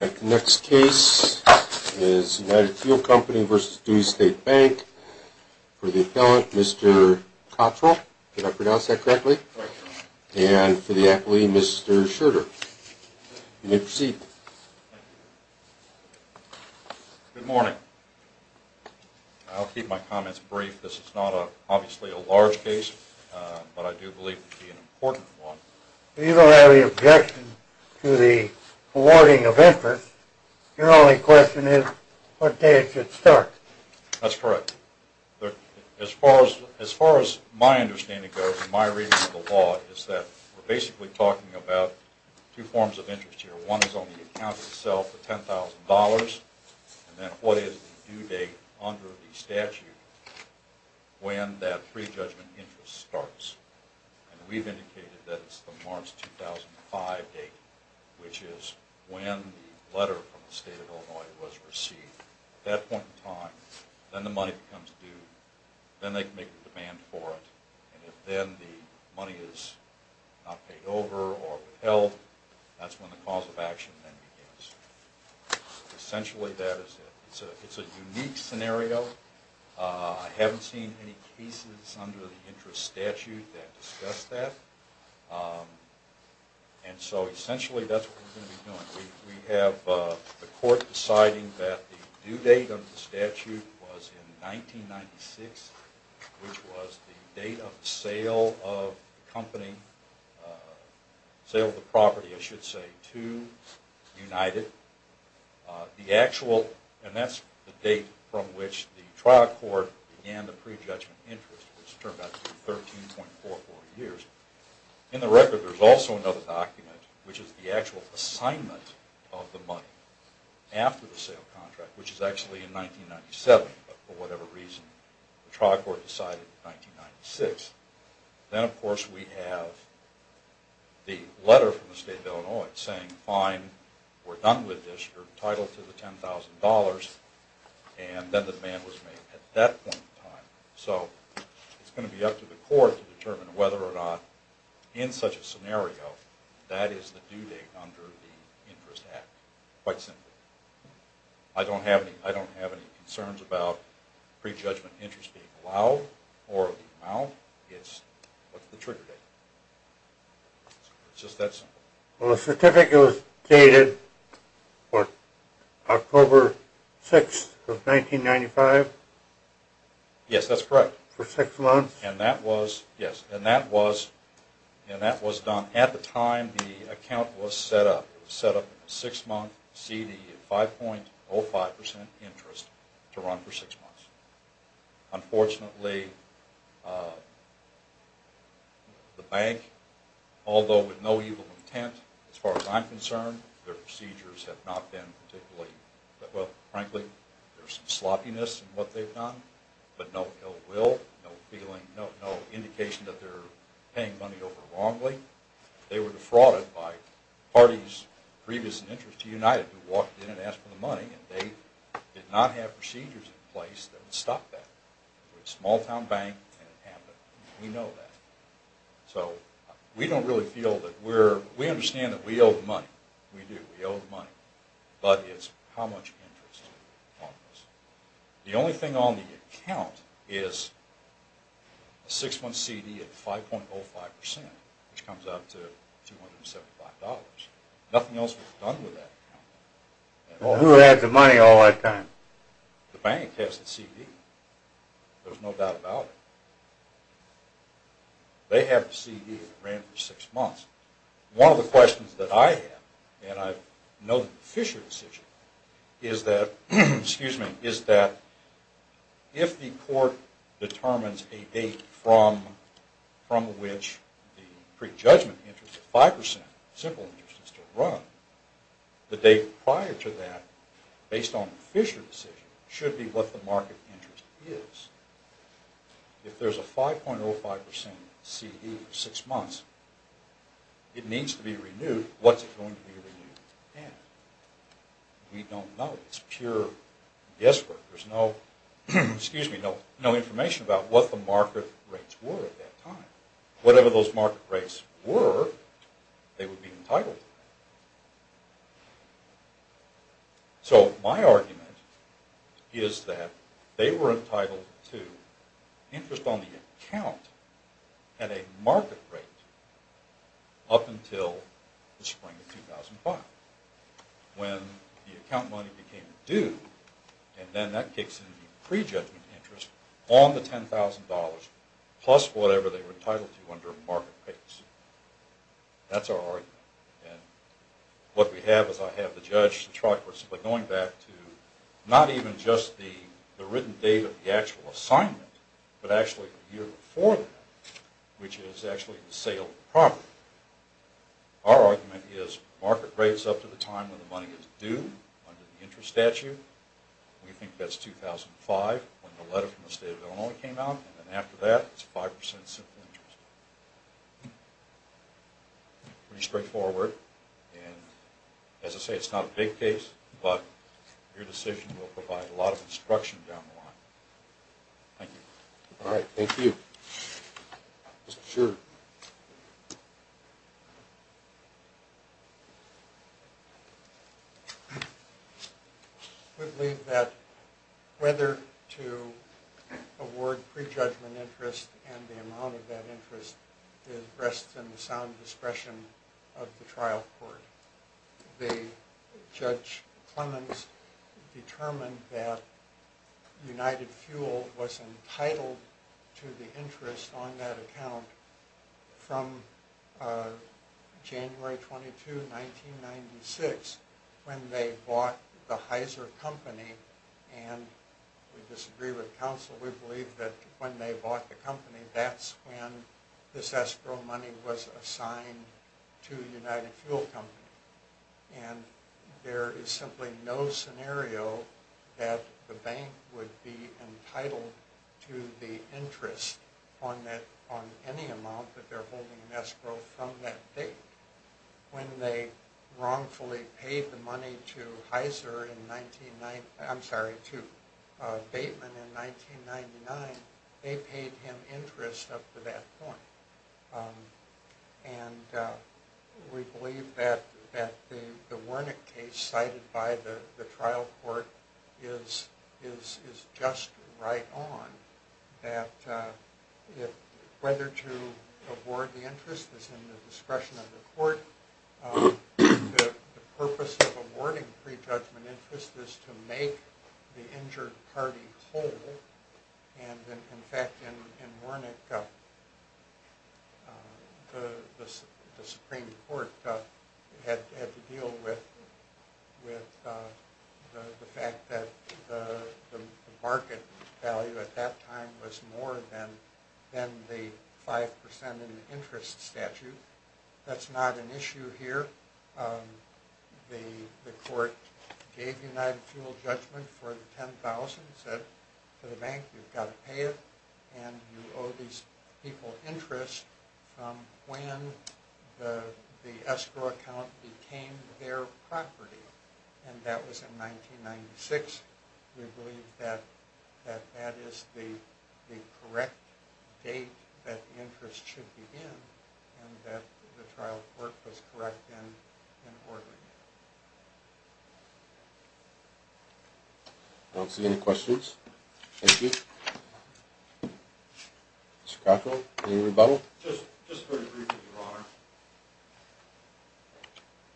The next case is United Fuel Company v. Dewey State Bank for the appellant Mr. Cottrell, did I pronounce that correctly, and for the appellee Mr. Schroeder. You may proceed. Good morning. I'll keep my comments brief. This is not obviously a large case, but I do believe it to be an important one. You don't have any objection to the awarding of interest. Your only question is what date it should start. That's correct. As far as my understanding goes and my reading of the law is that we're basically talking about two forms of interest here. One is on the account itself for $10,000 and then what is the due date under the statute when that prejudgment interest starts. We've indicated that it's the March 2005 date, which is when the letter from the state of Illinois was received. At that point in time, then the money becomes due, then they can make a demand for it, and if then the money is not paid over or withheld, that's when the cause of action then begins. Essentially that is it. It's a unique scenario. I haven't seen any cases under the interest statute that discuss that. Essentially that's what we're going to be doing. We have the court deciding that the due date under the statute was in 1996, which was the date of the sale of the property to United. That's the date from which the trial court began the prejudgment interest, which turned out to be 13.44 years. In the record there's also another document, which is the actual assignment of the money after the sale contract, which is actually in 1997, but for whatever reason the trial court decided in 1996. Then of course we have the letter from the state of Illinois saying fine, we're done with this, you're entitled to the $10,000, and then the demand was made at that point in time. So it's going to be up to the court to determine whether or not in such a scenario that is the due date under the interest act. Quite simply. I don't have any concerns about prejudgment interest being allowed or allowed. It's just that simple. Well the certificate was dated October 6, 1995? Yes, that's correct. For six months? Yes, and that was done at the time the account was set up. It was set up for a six month cd of 5.05% interest to run for six months. Unfortunately the bank, although with no evil intent as far as I'm concerned, their procedures have not been particularly, well frankly there's some sloppiness in what they've done, but no ill will, no indication that they're paying money over wrongly. They were defrauded by parties previous in interest to United who walked in and asked for the money, and they did not have procedures in place that would stop that. It was a small town bank, and it happened. We know that. So we don't really feel that we're, we understand that we owe the money. We do, we owe the money. But it's how much interest. The only thing on the account is a six month cd of 5.05%, which comes out to $275. Nothing else was done with that account. Well who had the money all that time? The bank has the cd. There's no doubt about it. They have the cd that ran for six months. One of the questions that I have, and I know that the Fisher decision, is that if the court determines a date from which the prejudgment interest of 5%, to run, the date prior to that, based on the Fisher decision, should be what the market interest is. If there's a 5.05% cd for six months, it needs to be renewed. What's it going to be renewed at? We don't know. It's pure guesswork. There's no information about what the market rates were at that time. Whatever those market rates were, they would be entitled to. So my argument is that they were entitled to interest on the account at a market rate up until the spring of 2005. When the account money became due, and then that kicks in the prejudgment interest on the $10,000 plus whatever they were entitled to under market rates. That's our argument. And what we have is I have the judge, the truck, we're going back to not even just the written date of the actual assignment, but actually the year before that, Our argument is market rates up to the time when the money is due, under the interest statute. We think that's 2005, when the letter from the state of Illinois came out, and after that, it's 5% simple interest. Pretty straightforward. And as I say, it's not a big case, but your decision will provide a lot of instruction down the line. Thank you. All right, thank you. Mr. Shearer. I believe that whether to award prejudgment interest and the amount of that interest rests in the sound discretion of the trial court. The judge Clemens determined that United Fuel was entitled to the interest on that account from January 22, 1996, when they bought the Heiser Company. And we disagree with counsel. We believe that when they bought the company, that's when this escrow money was assigned to United Fuel Company. And there is simply no scenario that the bank would be entitled to the interest on any amount that they're holding an escrow from that date. When they wrongfully paid the money to Heiser, I'm sorry, to Bateman in 1999, they paid him interest up to that point. And we believe that the Wernick case cited by the trial court is just right on, that whether to award the interest is in the discretion of the court. The purpose of awarding prejudgment interest is to make the injured party whole. And in fact, in Wernick, the Supreme Court had to deal with the fact that the market value at that time was more than the 5% in the interest statute. That's not an issue here. The court gave United Fuel judgment for the $10,000, said to the bank, you've got to pay it. And you owe these people interest from when the escrow account became their property. And that was in 1996. We believe that that is the correct date that the interest should begin and that the trial court was correct in ordering it. I don't see any questions. Thank you. Mr. Cato, any rebuttal? Just very briefly, Your Honor.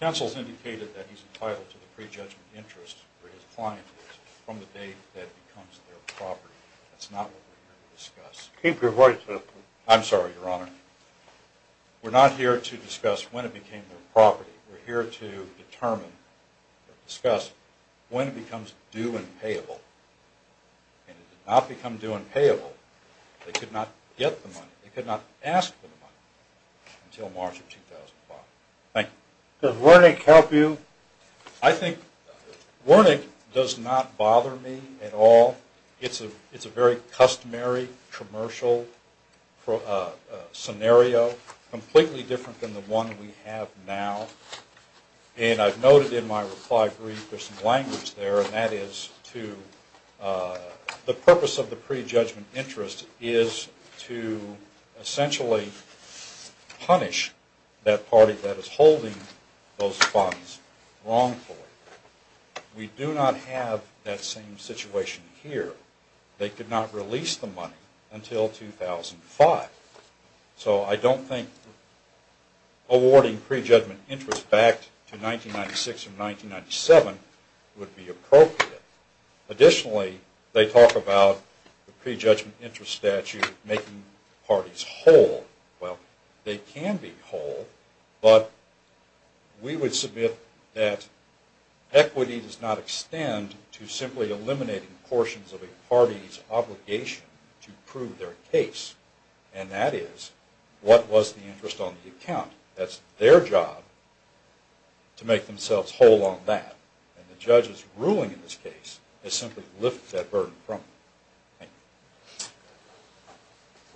Counsel has indicated that he's entitled to the prejudgment interest for his clientele from the date that it becomes their property. That's not what we're here to discuss. Keep your voice up. I'm sorry, Your Honor. We're not here to discuss when it became their property. We're here to determine or discuss when it becomes due and payable. And it did not become due and payable. They could not get the money. They could not ask for the money until March of 2005. Thank you. Does Wernick help you? I think Wernick does not bother me at all. It's a very customary commercial scenario, completely different than the one we have now. And I've noted in my reply brief there's some language there, and that is to the purpose of the prejudgment interest is to essentially punish that party that is holding those funds wrongfully. We do not have that same situation here. They could not release the money until 2005. So I don't think awarding prejudgment interest back to 1996 or 1997 would be appropriate. Additionally, they talk about the prejudgment interest statute making parties whole. Well, they can be whole, but we would submit that equity does not extend to simply eliminating portions of a party's obligation to prove their case. And that is, what was the interest on the account? That's their job to make themselves whole on that. And the judge's ruling in this case is simply to lift that burden from them. Thank you.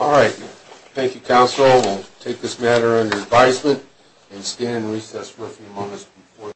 All right. Thank you, Counsel. We'll take this matter under advisement and stand in recess for a few moments before the hearing.